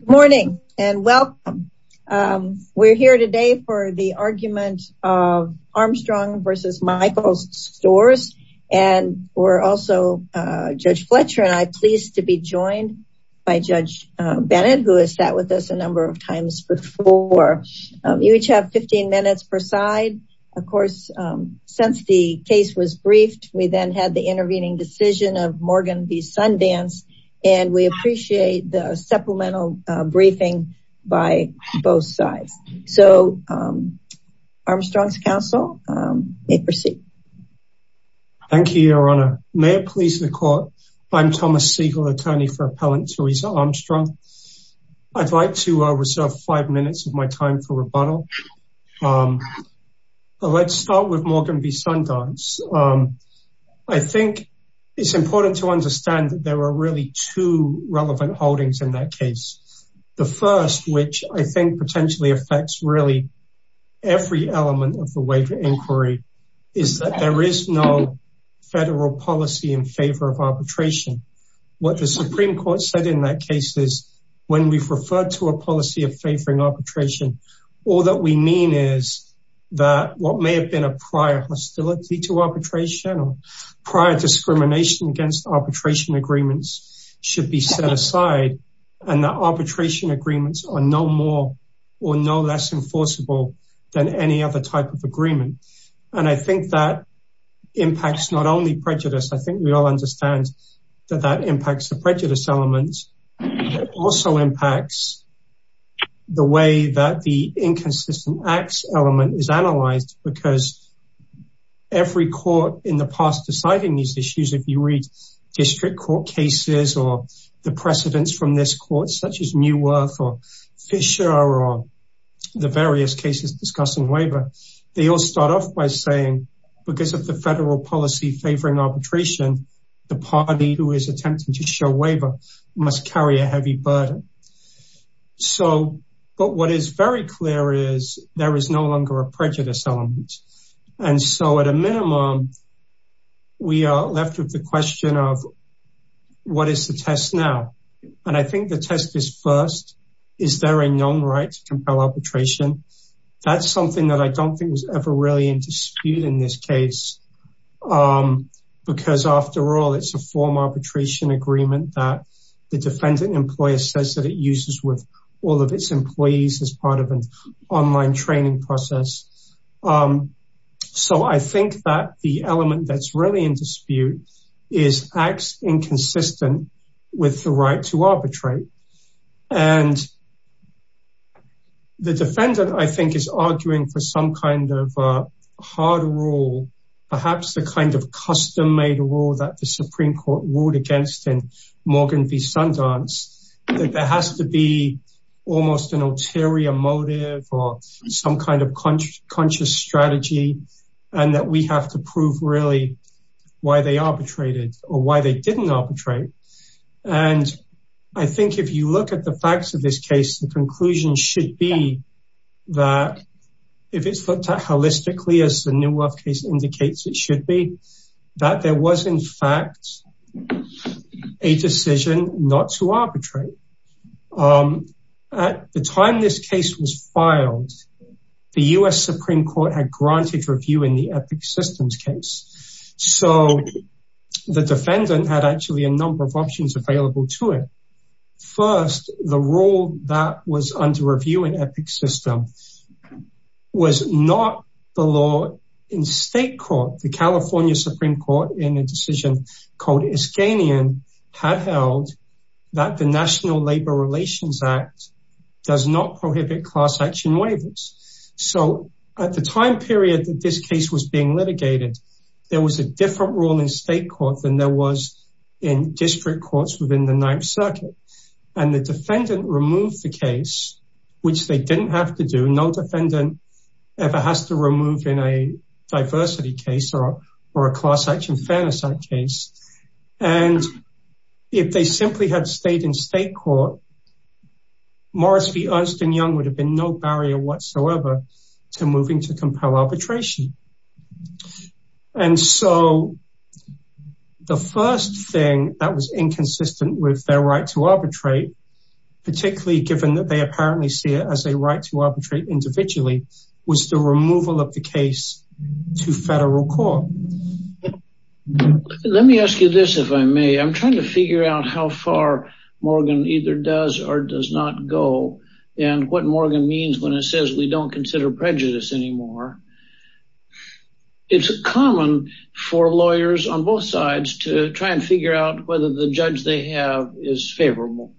Good morning and welcome. We're here today for the argument of Armstrong v. Michaels Stores and we're also, Judge Fletcher and I, pleased to be joined by Judge Bennett who has sat with us a number of times before. You each have 15 minutes per side. Of course, since the case was briefed, we then had the intervening decision of Morgan v. Sundance and we appreciate the supplemental briefing by both sides. So Armstrong's counsel may proceed. Thank you, Your Honor. May it please the court, I'm Thomas Siegel, attorney for Appellant Teresa Armstrong. I'd like to reserve five minutes of my time for rebuttal. Let's start with Morgan v. Sundance. I understand that there were really two relevant holdings in that case. The first, which I think potentially affects really every element of the waiver inquiry, is that there is no federal policy in favor of arbitration. What the Supreme Court said in that case is, when we've referred to a policy of favoring arbitration, all that we mean is that what agreements should be set aside and the arbitration agreements are no more or no less enforceable than any other type of agreement. And I think that impacts not only prejudice, I think we all understand that that impacts the prejudice elements. It also impacts the way that the inconsistent acts element is analyzed because every court in the past deciding these issues, if you read district court cases or the precedents from this court, such as Neuwirth or Fisher or the various cases discussing waiver, they all start off by saying, because of the federal policy favoring arbitration, the party who is attempting to show waiver must carry a heavy burden. But what is very clear is there is no longer a prejudice element. And so at a minimum, we are left with the question of what is the test now? And I think the test is first, is there a known right to compel arbitration? That's something that I don't think was ever really in dispute in this case. Because after all, it's a form arbitration agreement that the defendant employer says that it uses with all of its employees as part of an So I think that the element that's really in dispute is acts inconsistent with the right to arbitrate. And the defendant, I think, is arguing for some kind of hard rule, perhaps the kind of custom made rule that the Supreme Court ruled against in Morgan v Sundance, that there has to be almost an ulterior motive or some kind of conscious strategy, and that we have to prove really, why they arbitrated or why they didn't arbitrate. And I think if you look at the facts of this case, the conclusion should be that if it's looked at holistically, as the new love case the time this case was filed, the US Supreme Court had granted review in the epic systems case. So the defendant had actually a number of options available to it. First, the rule that was under review in epic system was not the law in state court, the California Supreme Court in a decision called Iskanian had held that the National Labor Relations Act does not prohibit class action waivers. So at the time period that this case was being litigated, there was a different rule in state court than there was in district courts within the Ninth Circuit. And the defendant removed the case, which they didn't have to do no defendant ever has to remove in a diversity case or a class action fairness case. And if they simply had stayed in state court, Morrissey, Ernst and Young would have been no barrier whatsoever to moving to compel arbitration. And so the first thing that was inconsistent with their right to arbitrate, particularly given that they apparently see it as a right to arbitrate individually, was the removal of the case to federal court. Let me ask you this, if I may, I'm trying to figure out how far Morgan either does or does not go. And what Morgan means when it says we don't consider prejudice anymore. It's common for lawyers on both sides to try and figure out whether the judge they have is favorable.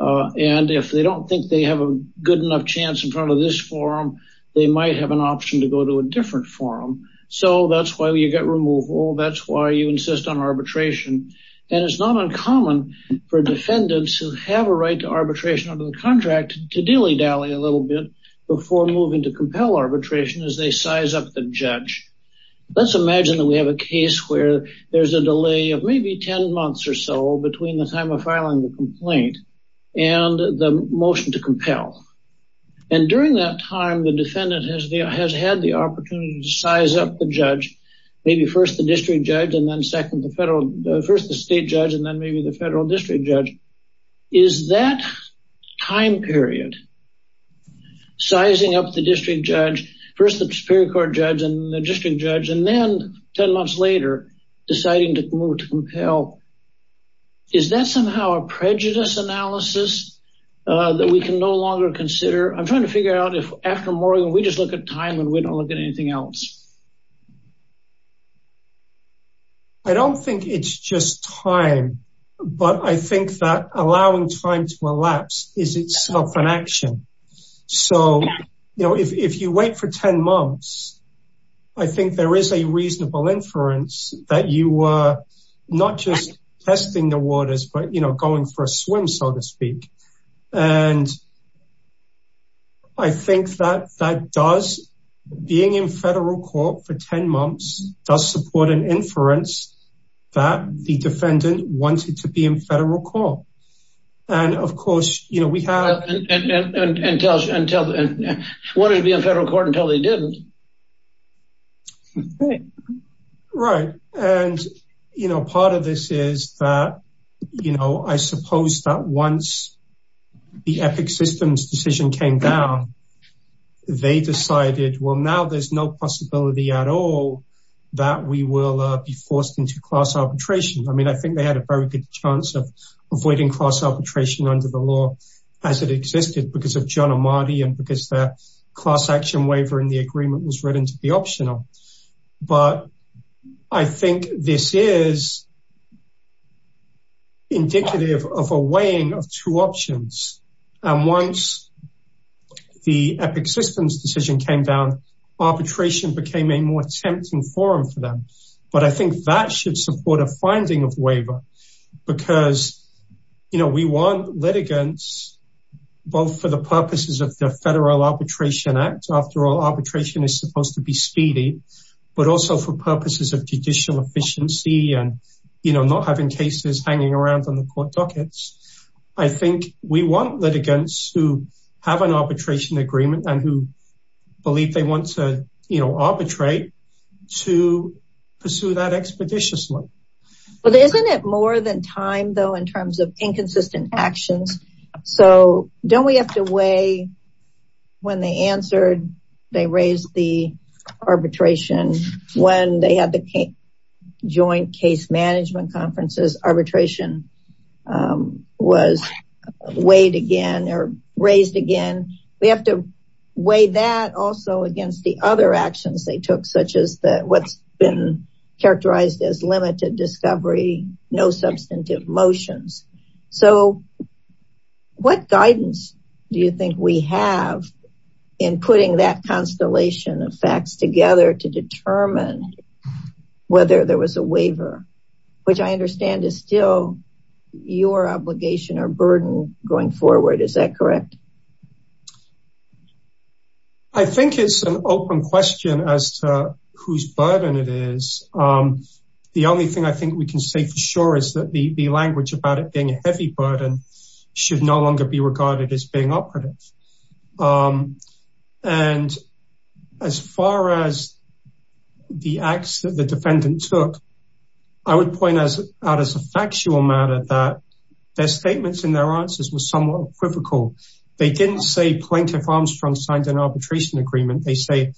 And if they don't think they have a good enough chance in front of this forum, they might have an option to go to a different forum. So that's why you get removal. That's why you insist on arbitration. And it's not uncommon for defendants who have a right to arbitration under the contract to dilly dally a little bit before moving to compel arbitration as they size up the judge. Let's imagine that we have a case where there's a delay of maybe 10 months or so between the time of filing the complaint and the motion to compel. And during that time, the defendant has had the opportunity to size up the judge, maybe first the district judge and then second the federal, first the state judge, and then maybe the federal district judge. Is that time period, sizing up the district judge, first the superior court judge and the district judge, and then 10 months later, deciding to move to compel. Is that somehow a prejudice analysis that we can no longer consider? I'm trying to figure out if after Morgan, we just look at time and we don't look at anything else. I don't think it's just time. But I think that allowing time to elapse is itself an action. So if you wait for 10 months, I think there is a reasonable inference that you were not just testing the waters, but going for a swim, so to speak. And I think that being in federal court for 10 months does support an inference that the defendant wanted to be in federal court. And wanted to be in federal court until they didn't. Right. And part of this is that I suppose that once the Epic Systems decision came down, they decided, well, now there's no possibility at all that we will be forced into class arbitration. I think they had a very good chance of avoiding class arbitration under the law as it existed because of John Amati and because their class action waiver in the agreement was written to be optional. But I think this is indicative of a weighing of two options. And once the Epic Systems decision came down, arbitration became a more tempting forum for them. But I think that should support a finding of waiver because we want litigants, both for the purposes of the Federal Arbitration Act, after all, arbitration is supposed to be speedy, but also for purposes of judicial efficiency and not having cases hanging around on the court dockets. I think we want litigants who have an arbitration agreement and who they want to arbitrate to pursue that expeditiously. But isn't it more than time, though, in terms of inconsistent actions? So don't we have to weigh when they answered, they raised the arbitration when they had the joint case management conferences, arbitration was weighed again or raised again. We have to weigh that also against the other actions they took, such as what's been characterized as limited discovery, no substantive motions. So what guidance do you think we have in putting that constellation of decisions to determine whether there was a waiver, which I understand is still your obligation or burden going forward, is that correct? I think it's an open question as to whose burden it is. The only thing I think we can say for sure is that the language about it being the acts that the defendant took, I would point out as a factual matter that their statements and their answers were somewhat equivocal. They didn't say plaintiff Armstrong signed an arbitration agreement. They say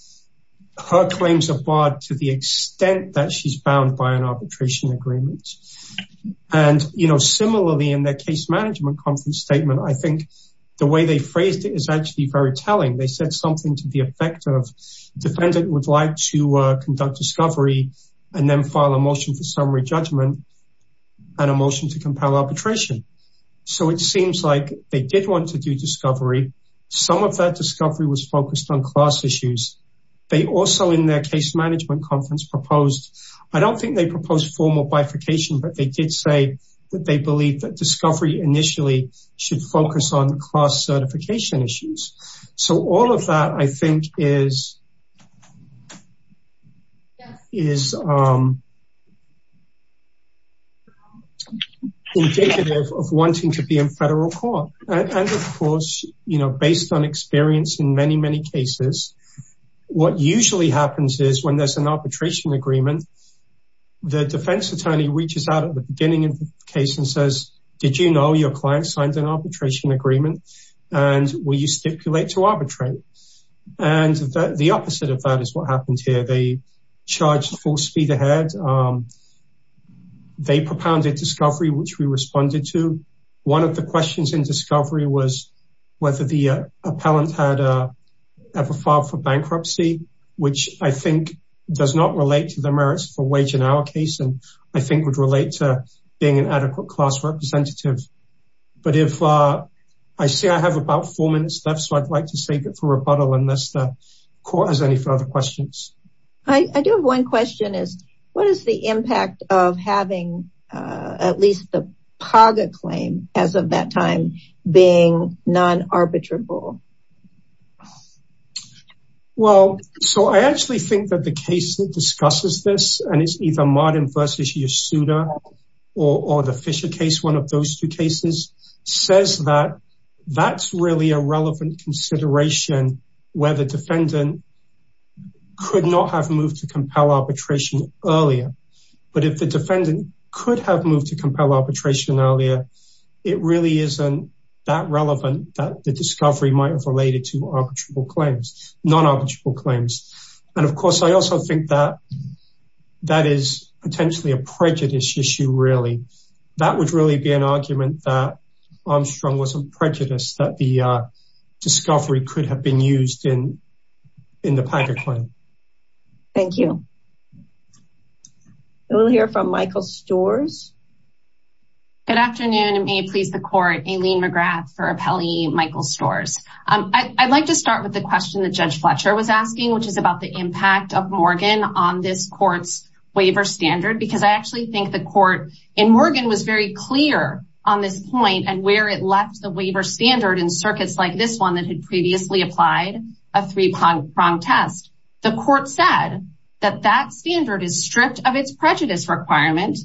her claims are barred to the extent that she's bound by an arbitration agreement. And similarly, in their case management conference statement, I think the way they phrased it is actually very telling. They said something to the effect of defendant would like to conduct discovery and then file a motion for summary judgment and a motion to compel arbitration. So it seems like they did want to do discovery. Some of that discovery was focused on class issues. They also in their case management conference proposed, I don't think they proposed formal bifurcation, but they did say that they believe that discovery initially should focus on class certification issues. So all of that I think is indicative of wanting to be in federal court. And of course, you know, based on experience in many, many cases, what usually happens is when there's an arbitration agreement, the defense attorney reaches out at the beginning of the case and says, did you know your client signed an arbitration agreement? And will you stipulate to arbitrate? And the opposite of that is what happened here. They charged full speed ahead. They propounded discovery, which we responded to. One of the questions in discovery was whether the appellant had ever filed for bankruptcy, which I think does not relate to the merits for wage in our case, and I think would relate to being an adequate class representative. But if I say I have about four minutes left, so I'd like to save it for rebuttal unless the court has any further questions. I do have one question is what is the impact of having at least the Paga claim as of that time being non-arbitrable? Well, so I actually think that the case that discusses this, and it's either Martin versus Yasuda or the Fisher case, one of those two cases, says that that's really a relevant consideration where the defendant could not have moved to compel arbitration earlier. But if the defendant could have moved to compel arbitration earlier, it really isn't that relevant that the discovery might have related to arbitrable claims, non-arbitrable claims. And of course, I also think that that is potentially a prejudice issue, really. That would really be an argument that Armstrong wasn't prejudiced, that the discovery could have been used in the Paga claim. Thank you. We'll hear from Michael Storrs. Good afternoon, and may it please the court, Aileen McGrath for appellee Michael Storrs. I'd like to start with the question that Judge Fletcher was asking, which is about the impact of Morgan on this court's waiver standard, because I actually think the court in Morgan was very clear on this point and where it left the waiver standard in circuits like this one that had previously applied a three-prong test. The court said that that standard is stripped of its prejudice requirement,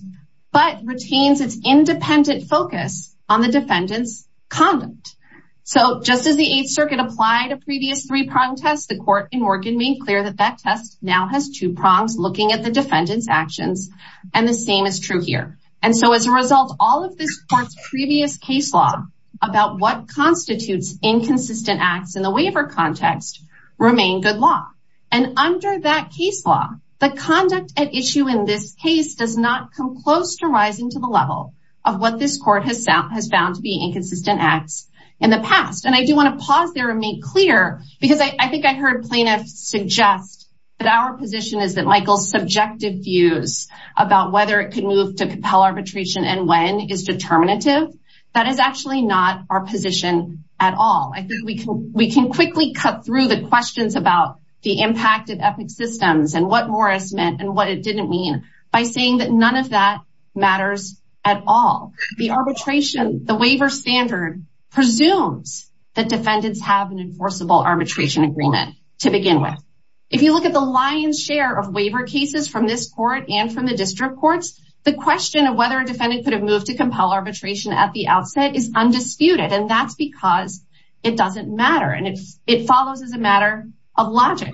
but retains its independent focus on the defendant's conduct. So just as the Eighth Circuit applied a previous three-prong test, the court in Morgan made clear that that test now has two prongs looking at the defendant's actions, and the same is true here. And so as a result, all of this court's previous case law about what constitutes inconsistent acts in the waiver context remain good law. And under that case law, the conduct at issue in this case does not come close to rising to the level of what this court has found to be inconsistent acts in the past. And I do want to pause there and make clear, because I think I heard plaintiffs suggest that our position is that Michael's subjective views about whether it could move to compel arbitration and when is determinative. That is actually not our position at all. I think we can we can quickly cut through the questions about the impact of ethnic systems and what Morris meant and what it didn't mean by saying that none of that matters at all. The arbitration, the waiver standard, presumes that defendants have an enforceable arbitration agreement to begin with. If you look at the lion's share of waiver cases from this court and from the district courts, the question of whether a defendant could have moved to compel arbitration at the outset is undisputed, and that's because it doesn't matter. And it follows as a matter of logic.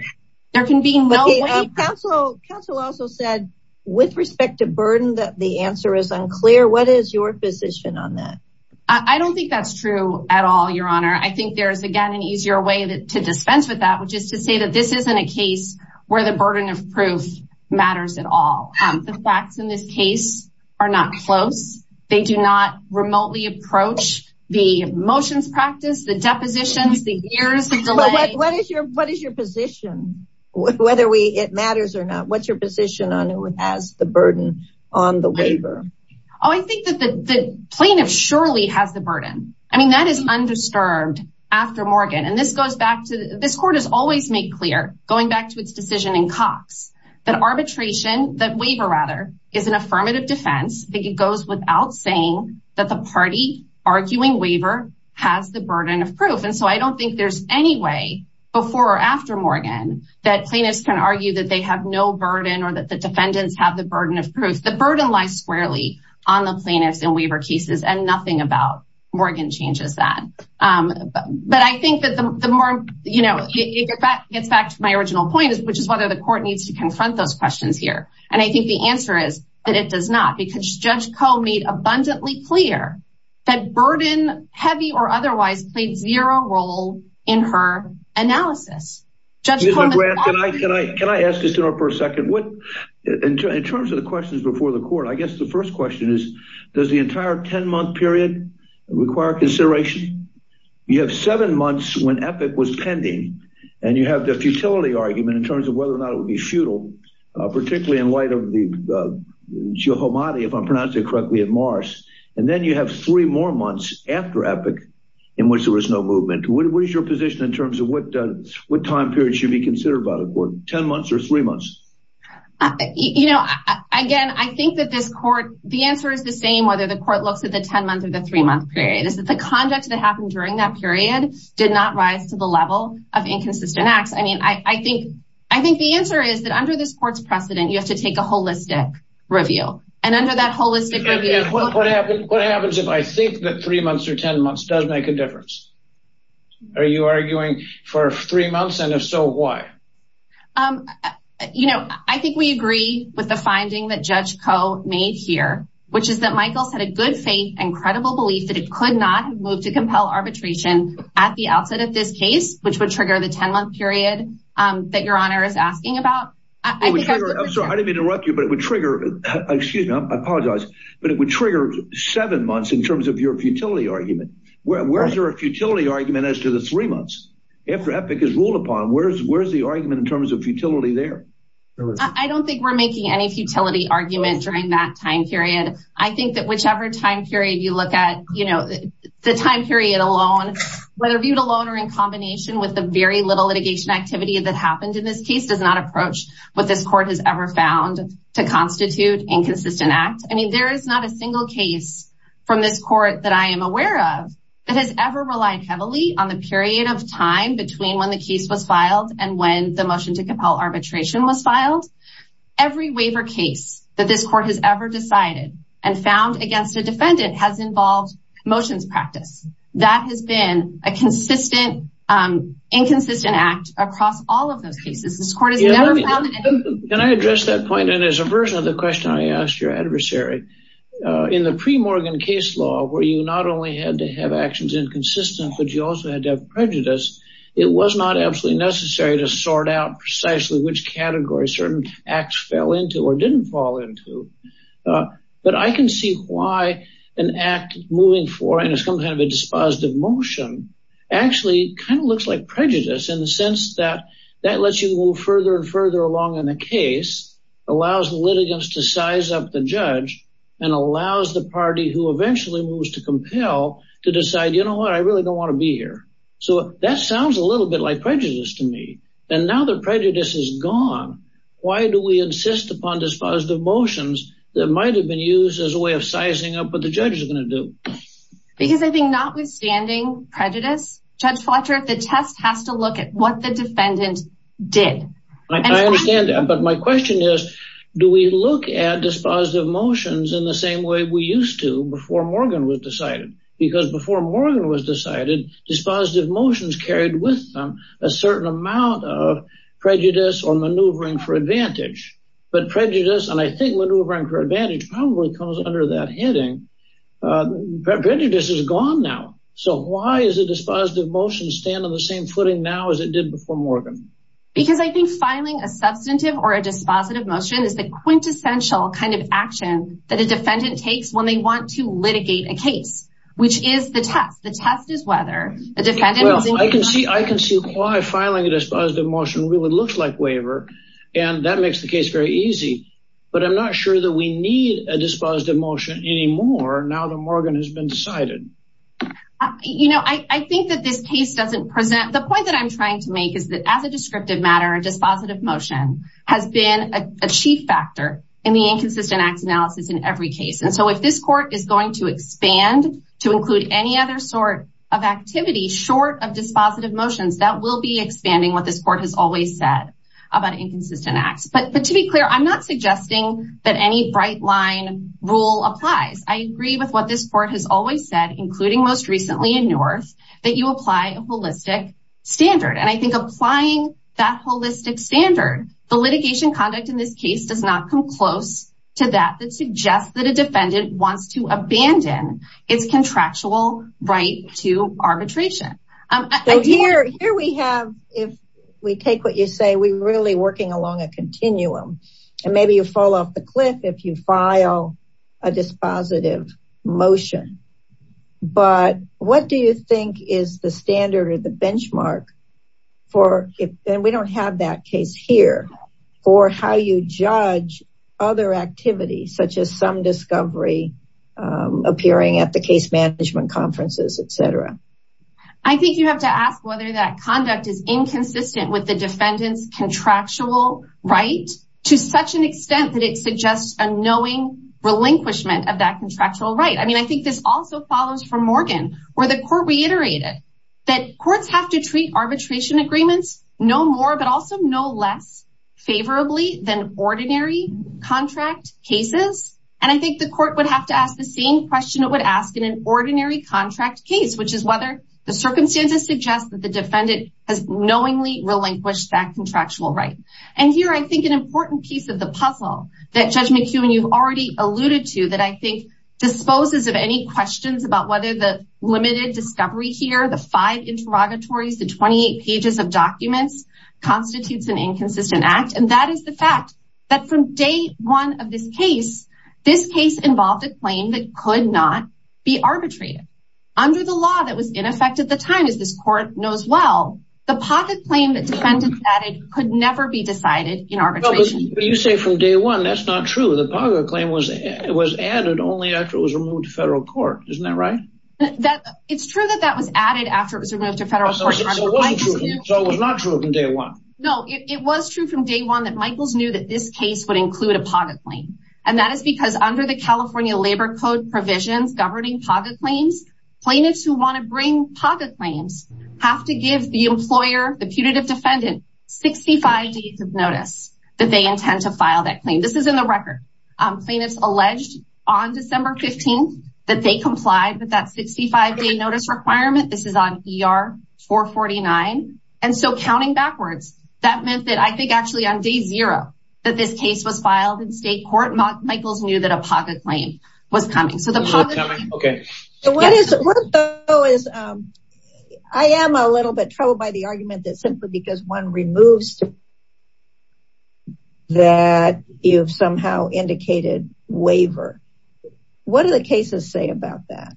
There can be no way- Okay, counsel also said with respect to burden that the answer is I don't think that's true at all, your honor. I think there's again an easier way to dispense with that, which is to say that this isn't a case where the burden of proof matters at all. The facts in this case are not close. They do not remotely approach the motions practice, the depositions, the years of delay. What is your position? Whether it matters or not, what's your position on who has the burden on the waiver? Oh, I think that the plaintiff surely has the burden. I mean, that is undisturbed after Morgan. And this court has always made clear, going back to its decision in Cox, that arbitration, that waiver rather, is an affirmative defense. I think it goes without saying that the party arguing waiver has the burden of proof. And so I don't think there's any way before or after Morgan that plaintiffs can argue that they have no burden or that the defendants have the burden of proof. The burden lies squarely on the plaintiffs in waiver cases and nothing about Morgan changes that. But I think that the more, you know, it gets back to my original point, which is whether the court needs to confront those questions here. And I think the answer is that it does not, because Judge Koh made abundantly clear that burden, heavy or otherwise, played zero role in her analysis. Judge Koh- Can I ask this in a second? In terms of the questions before the court, I guess the first question is, does the entire 10 month period require consideration? You have seven months when Epic was pending, and you have the futility argument in terms of whether or not it would be futile, particularly in light of the Jehomadi, if I'm pronouncing it correctly, at Mars. And then you have three more months after Epic in which there was no movement. What is your position in terms of what time period should be considered by the court, 10 months or three months? Judge Koh- You know, again, I think that this court, the answer is the same whether the court looks at the 10 month or the three month period, is that the conduct that happened during that period did not rise to the level of inconsistent acts. I mean, I think the answer is that under this court's precedent, you have to take a holistic review. And under that holistic review- Judge Kohl- What happens if I think that three months or 10 months does make a difference? Are you arguing for three months? And if so, why? Judge Koh- You know, I think we agree with the finding that Judge Koh made here, which is that Michaels had a good faith and credible belief that it could not move to compel arbitration at the outset of this case, which would trigger the 10 month period that your honor is asking about. I think- Judge Kohl- I'm sorry, I didn't mean to interrupt you, but it would trigger, excuse me, I apologize, but it would trigger seven months in terms of your futility argument as to the three months after Epic is ruled upon. Where's the argument in terms of futility there? Judge Kohl- I don't think we're making any futility argument during that time period. I think that whichever time period you look at, you know, the time period alone, whether viewed alone or in combination with the very little litigation activity that happened in this case does not approach what this court has ever found to constitute inconsistent act. I mean, there is not a single case from this court that I am aware of that has ever relied heavily on the period of time between when the case was filed and when the motion to compel arbitration was filed. Every waiver case that this court has ever decided and found against a defendant has involved motions practice. That has been a consistent, inconsistent act across all of those cases. Judge Kohl- Can I address that point? And as a version of the question I asked your adversary, in the pre-Morgan case law, where you not only had to have actions inconsistent, but you also had to have prejudice, it was not absolutely necessary to sort out precisely which category certain acts fell into or didn't fall into. But I can see why an act moving forward and it's some kind of a further and further along in the case allows the litigants to size up the judge and allows the party who eventually moves to compel to decide, you know what, I really don't want to be here. So that sounds a little bit like prejudice to me. And now that prejudice is gone, why do we insist upon dispositive motions that might have been used as a way of sizing up what the judge is going to do? Because I think notwithstanding prejudice, Judge Fletcher, the test has to look at what the defendant did. Judge Kohl- I understand that. But my question is, do we look at dispositive motions in the same way we used to before Morgan was decided? Because before Morgan was decided, dispositive motions carried with them a certain amount of prejudice or maneuvering for advantage. But prejudice, and I think maneuvering for advantage probably comes under that heading. Prejudice is gone now. So why is a dispositive motion stand on the same footing now as it did before Morgan? Because I think filing a substantive or a dispositive motion is the quintessential kind of action that a defendant takes when they want to litigate a case, which is the test. The test is whether the defendant- Well, I can see why filing a dispositive motion really looks like waiver. And that makes the case very easy. But I'm not sure that we need a dispositive motion anymore now that Morgan has been decided. You know, I think that this case doesn't present- The point that I'm trying to make is that as a descriptive matter, a dispositive motion has been a chief factor in the inconsistent acts analysis in every case. And so if this court is going to expand to include any other sort of activity short of dispositive motions, that will be expanding what this court has always said about inconsistent acts. But to be clear, I'm not suggesting that any bright line rule applies. I agree with what this court has always said, including most recently in North, that you apply a holistic standard. And I think applying that holistic standard, the litigation conduct in this case does not come close to that that suggests that a defendant wants to abandon its contractual right to arbitration. So here we have, if we take what you say, we're really off the cliff if you file a dispositive motion. But what do you think is the standard or the benchmark for, and we don't have that case here, for how you judge other activities such as some discovery appearing at the case management conferences, et cetera? I think you have to ask whether that conduct is inconsistent with the defendant's contractual right to such an extent that it suggests a knowing relinquishment of that contractual right. I mean, I think this also follows from Morgan, where the court reiterated that courts have to treat arbitration agreements no more, but also no less favorably than ordinary contract cases. And I think the court would have to ask the same question it would ask in an ordinary contract case, which is whether the circumstances suggest that the defendant has knowingly relinquished that contractual right. And here I think an important piece of the puzzle that Judge McEwen, you've already alluded to, that I think disposes of any questions about whether the limited discovery here, the five interrogatories, the 28 pages of documents, constitutes an inconsistent act. And that is the fact that from day one of this case, this case involved a claim that could not be arbitrated. Under the law that was in effect at the time, as this court knows well, the pocket claim that defendants added could never be decided in arbitration. You say from day one, that's not true. The pocket claim was added only after it was removed to federal court. Isn't that right? It's true that that was added after it was removed to federal court. So it was not true from day one? No, it was true from day one that Michaels knew that this case would include a pocket claim. And that is because under the California Labor Code provisions governing pocket claims, plaintiffs who want to notice that they intend to file that claim. This is in the record. Plaintiffs alleged on December 15th that they complied with that 65 day notice requirement. This is on ER-449. And so counting backwards, that meant that I think actually on day zero, that this case was filed in state court. Michaels knew that a pocket claim was coming. So the pocket claim. So what is, what though is, I am a little bit troubled by the argument that simply because one removes a pocket claim that you have somehow indicated waiver. What do the cases say about that?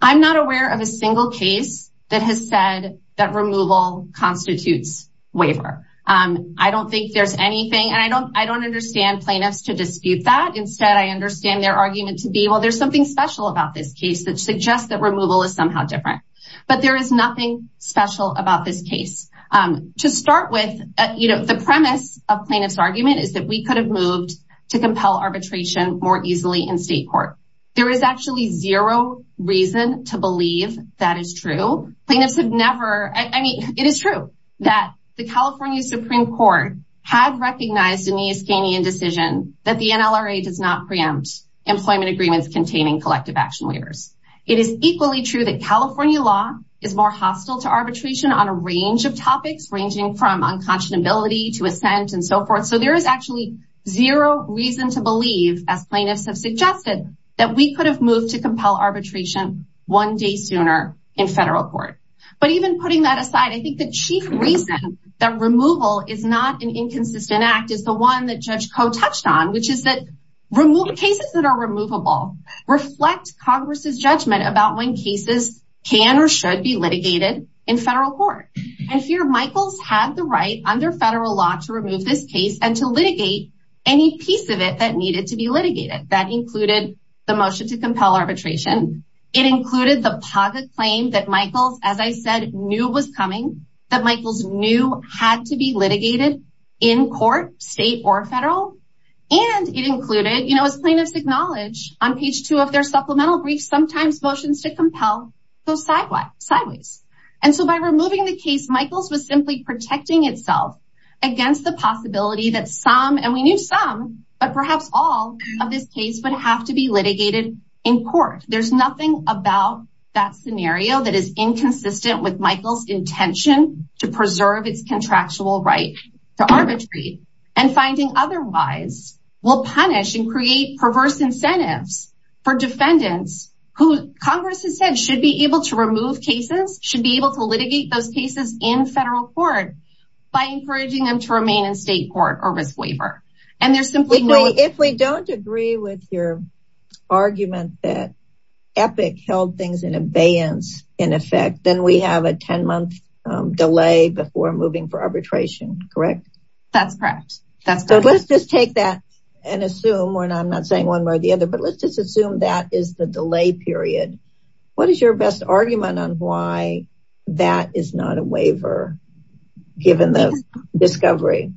I'm not aware of a single case that has said that removal constitutes waiver. I don't think there's anything and I don't, I don't understand plaintiffs to dispute that. Instead, I understand their argument to be, well, there's something special about this case that suggests that removal is somehow different. But there is nothing special about this case. To start with, the premise of plaintiff's argument is that we could have moved to compel arbitration more easily in state court. There is actually zero reason to believe that is true. Plaintiffs have never, I mean, it is true that the California Supreme Court had recognized in the Iskanian decision that the NLRA does not preempt employment agreements containing collective action waivers. It is equally true that California law is more hostile to arbitration on a range of topics, ranging from unconscionability to assent and so forth. So there is actually zero reason to believe, as plaintiffs have suggested, that we could have moved to compel arbitration one day sooner in federal court. But even putting that aside, I think the chief reason that removal is not an inconsistent act is the one that Judge Koh touched on, which is that cases that are removable reflect Congress's judgment about when cases can or should be litigated in federal court. And here, Michaels had the right, under federal law, to remove this case and to litigate any piece of it that needed to be litigated. That included the motion to compel arbitration. It included the PAGA claim that Michaels, as I said, knew was coming, that Michaels knew had to be litigated in court, state or federal. And it included, as plaintiffs acknowledge, on page two of their supplemental brief, sometimes motions to compel go sideways. And so by removing the case, Michaels was simply protecting itself against the possibility that some, and we knew some, but perhaps all of this case would have to be litigated in court. There's nothing about that scenario that is inconsistent with Michaels' intention to preserve its contractual right to arbitrate. And finding otherwise will punish and create perverse incentives for defendants who Congress has said should be able to remove cases, should be able to litigate those cases in federal court by encouraging them to remain in state court or risk waiver. And there's simply no- If we don't agree with your argument that Epic held things in abeyance, in effect, then we have a 10-month delay before moving for arbitration, correct? That's correct. That's correct. So let's just take that and assume, and I'm not saying one way or the other, but let's just assume that is the delay period. What is your best argument on why that is not a waiver given the discovery?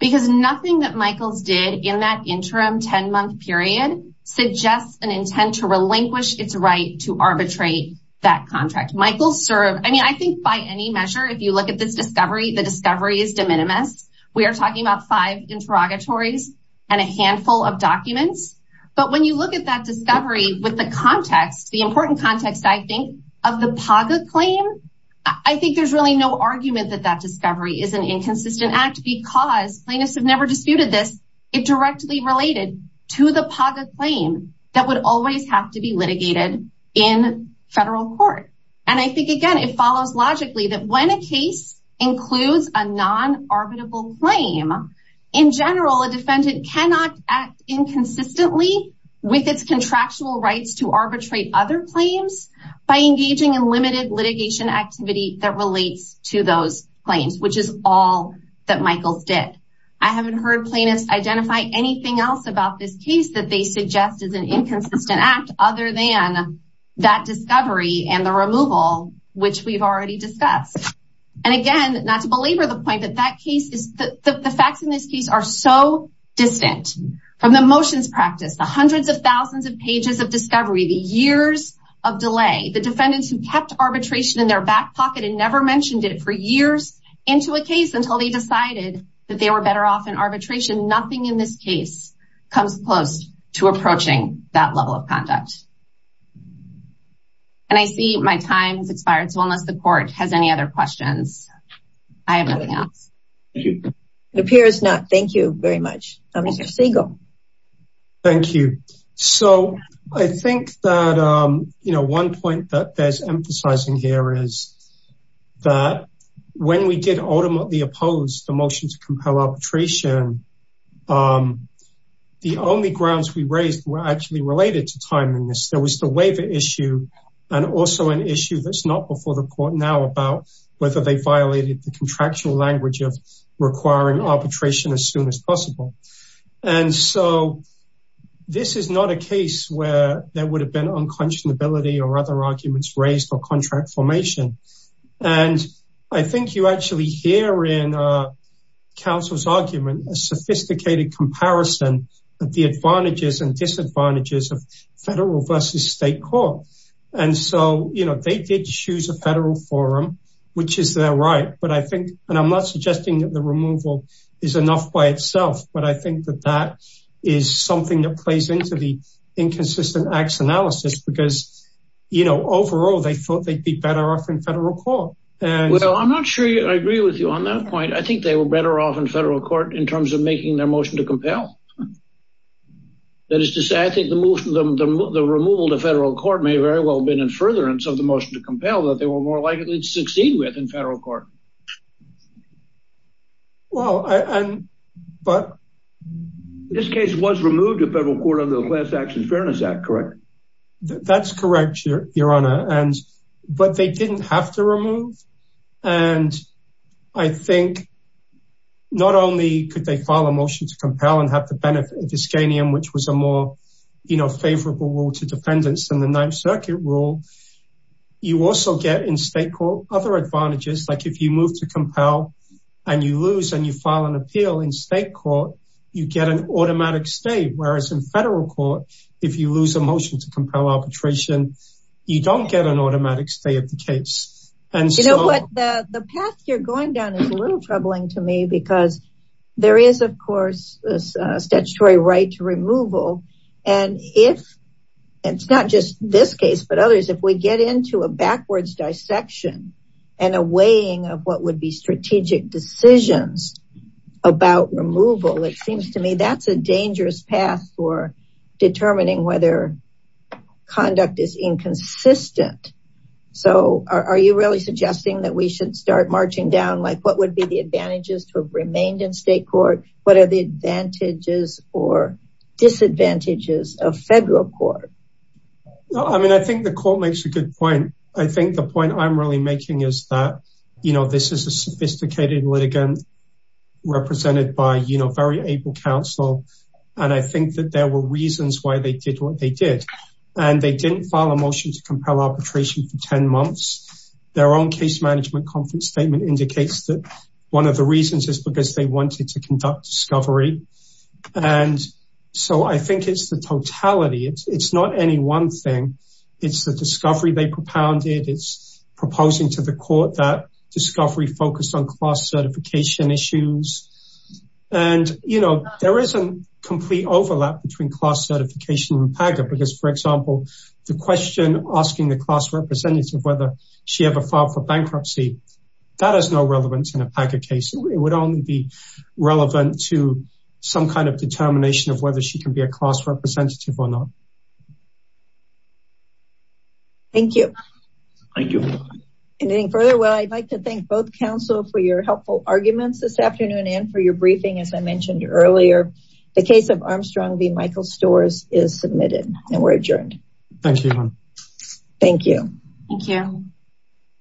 Because nothing that Michaels did in that interim 10-month period suggests an intent to relinquish its right to arbitrate that contract. Michaels served, I mean, I think by any measure, if you look at this discovery, the discovery is de minimis. We are talking about five interrogatories and a handful of documents. But when you look at that discovery with the context, the important context, I think, of the PAGA claim, I think there's really no argument that that discovery is an inconsistent act because plaintiffs have never disputed this. It directly related to the PAGA claim that would always have to be litigated in federal court. And I think, again, it follows logically that when a case includes a non-arbitrable claim, in general, a defendant cannot act inconsistently with its contractual rights to arbitrate other claims by engaging in limited litigation activity that relates to those claims, which is all that Michaels did. I haven't heard plaintiffs identify anything else about this case that they suggest is an inconsistent act other than that discovery and the removal, which we've already discussed. And again, not to belabor the point that that case is the facts in this case are so distant from the motions practice, the hundreds of thousands of pages of discovery, the years of delay, the defendants who kept arbitration in their back pocket and never mentioned it for years into a case until they decided that they were better off in arbitration. Nothing in this case comes close to approaching that level of conduct. And I see my time's expired. So unless the court has any other questions, I have nothing else. Thank you. It appears not. Thank you very much. Mr. Siegel. Thank you. So I think that, you know, one point that there's emphasizing here is that when we did ultimately oppose the motion to compel arbitration, the only grounds we raised were actually related to timing. There was the waiver issue and also an issue that's not before the court now about whether they violated the contractual language of requiring arbitration as soon as possible. And so this is not a case where there would have been unconscionability or other arguments raised or contract formation. And I think you actually hear in counsel's argument, a sophisticated comparison of the advantages and disadvantages of federal versus state court. And so, you know, they did choose a federal forum, which is their right. But I think and I'm not suggesting that the removal is enough by itself. But I think that that is something that plays into the inconsistent acts analysis, because, you know, overall, they thought they'd be better off in federal court. Well, I'm not sure I agree with you on that point. I think they were better off in federal court in terms of making their motion to compel. That is to say, I think the removal to federal court may very well have been in furtherance of the motion to compel that they were more likely to succeed with in federal court. Well, but this case was removed to federal court under the class actions Fairness Act, correct? That's correct, Your Honor. And but they didn't have to remove. And I think not only could they file a motion to compel and have the benefit of Iskanian, which was a more, you know, favorable rule to defendants in the Ninth Circuit rule. You also get in state court other advantages, like if you move to compel, and you lose and you automatic state, whereas in federal court, if you lose a motion to compel arbitration, you don't get an automatic stay at the case. And you know what, the path you're going down is a little troubling to me, because there is, of course, a statutory right to removal. And if it's not just this case, but others, if we get into a backwards dissection, and a weighing of what would be strategic decisions about removal, it seems to me that's a dangerous path for determining whether conduct is inconsistent. So are you really suggesting that we should start marching down like what would be the advantages to have remained in state court? What are the advantages or disadvantages of federal court? No, I mean, I think the court makes a good point. I think the point I'm really making is that, you know, this is a sophisticated litigant, represented by, you know, very able counsel. And I think that there were reasons why they did what they did. And they didn't file a motion to compel arbitration for 10 months. Their own case management conference statement indicates that one of the reasons is because they wanted to conduct discovery. And so I think it's the totality, it's not any one thing. It's the discovery they propounded, it's proposing to the court that discovery focused on class certification issues. And, you know, there isn't complete overlap between class certification and PAGA. Because for example, the question asking the class representative whether she ever filed for bankruptcy, that has no relevance in a PAGA case, it would only be relevant to some kind of determination of whether she can be a class representative or not. Thank you. Thank you. Anything further? Well, I'd like to thank both counsel for your helpful arguments this afternoon and for your briefing, as I mentioned earlier, the case of Armstrong v. Michael Storrs is submitted and we're adjourned. Thank you.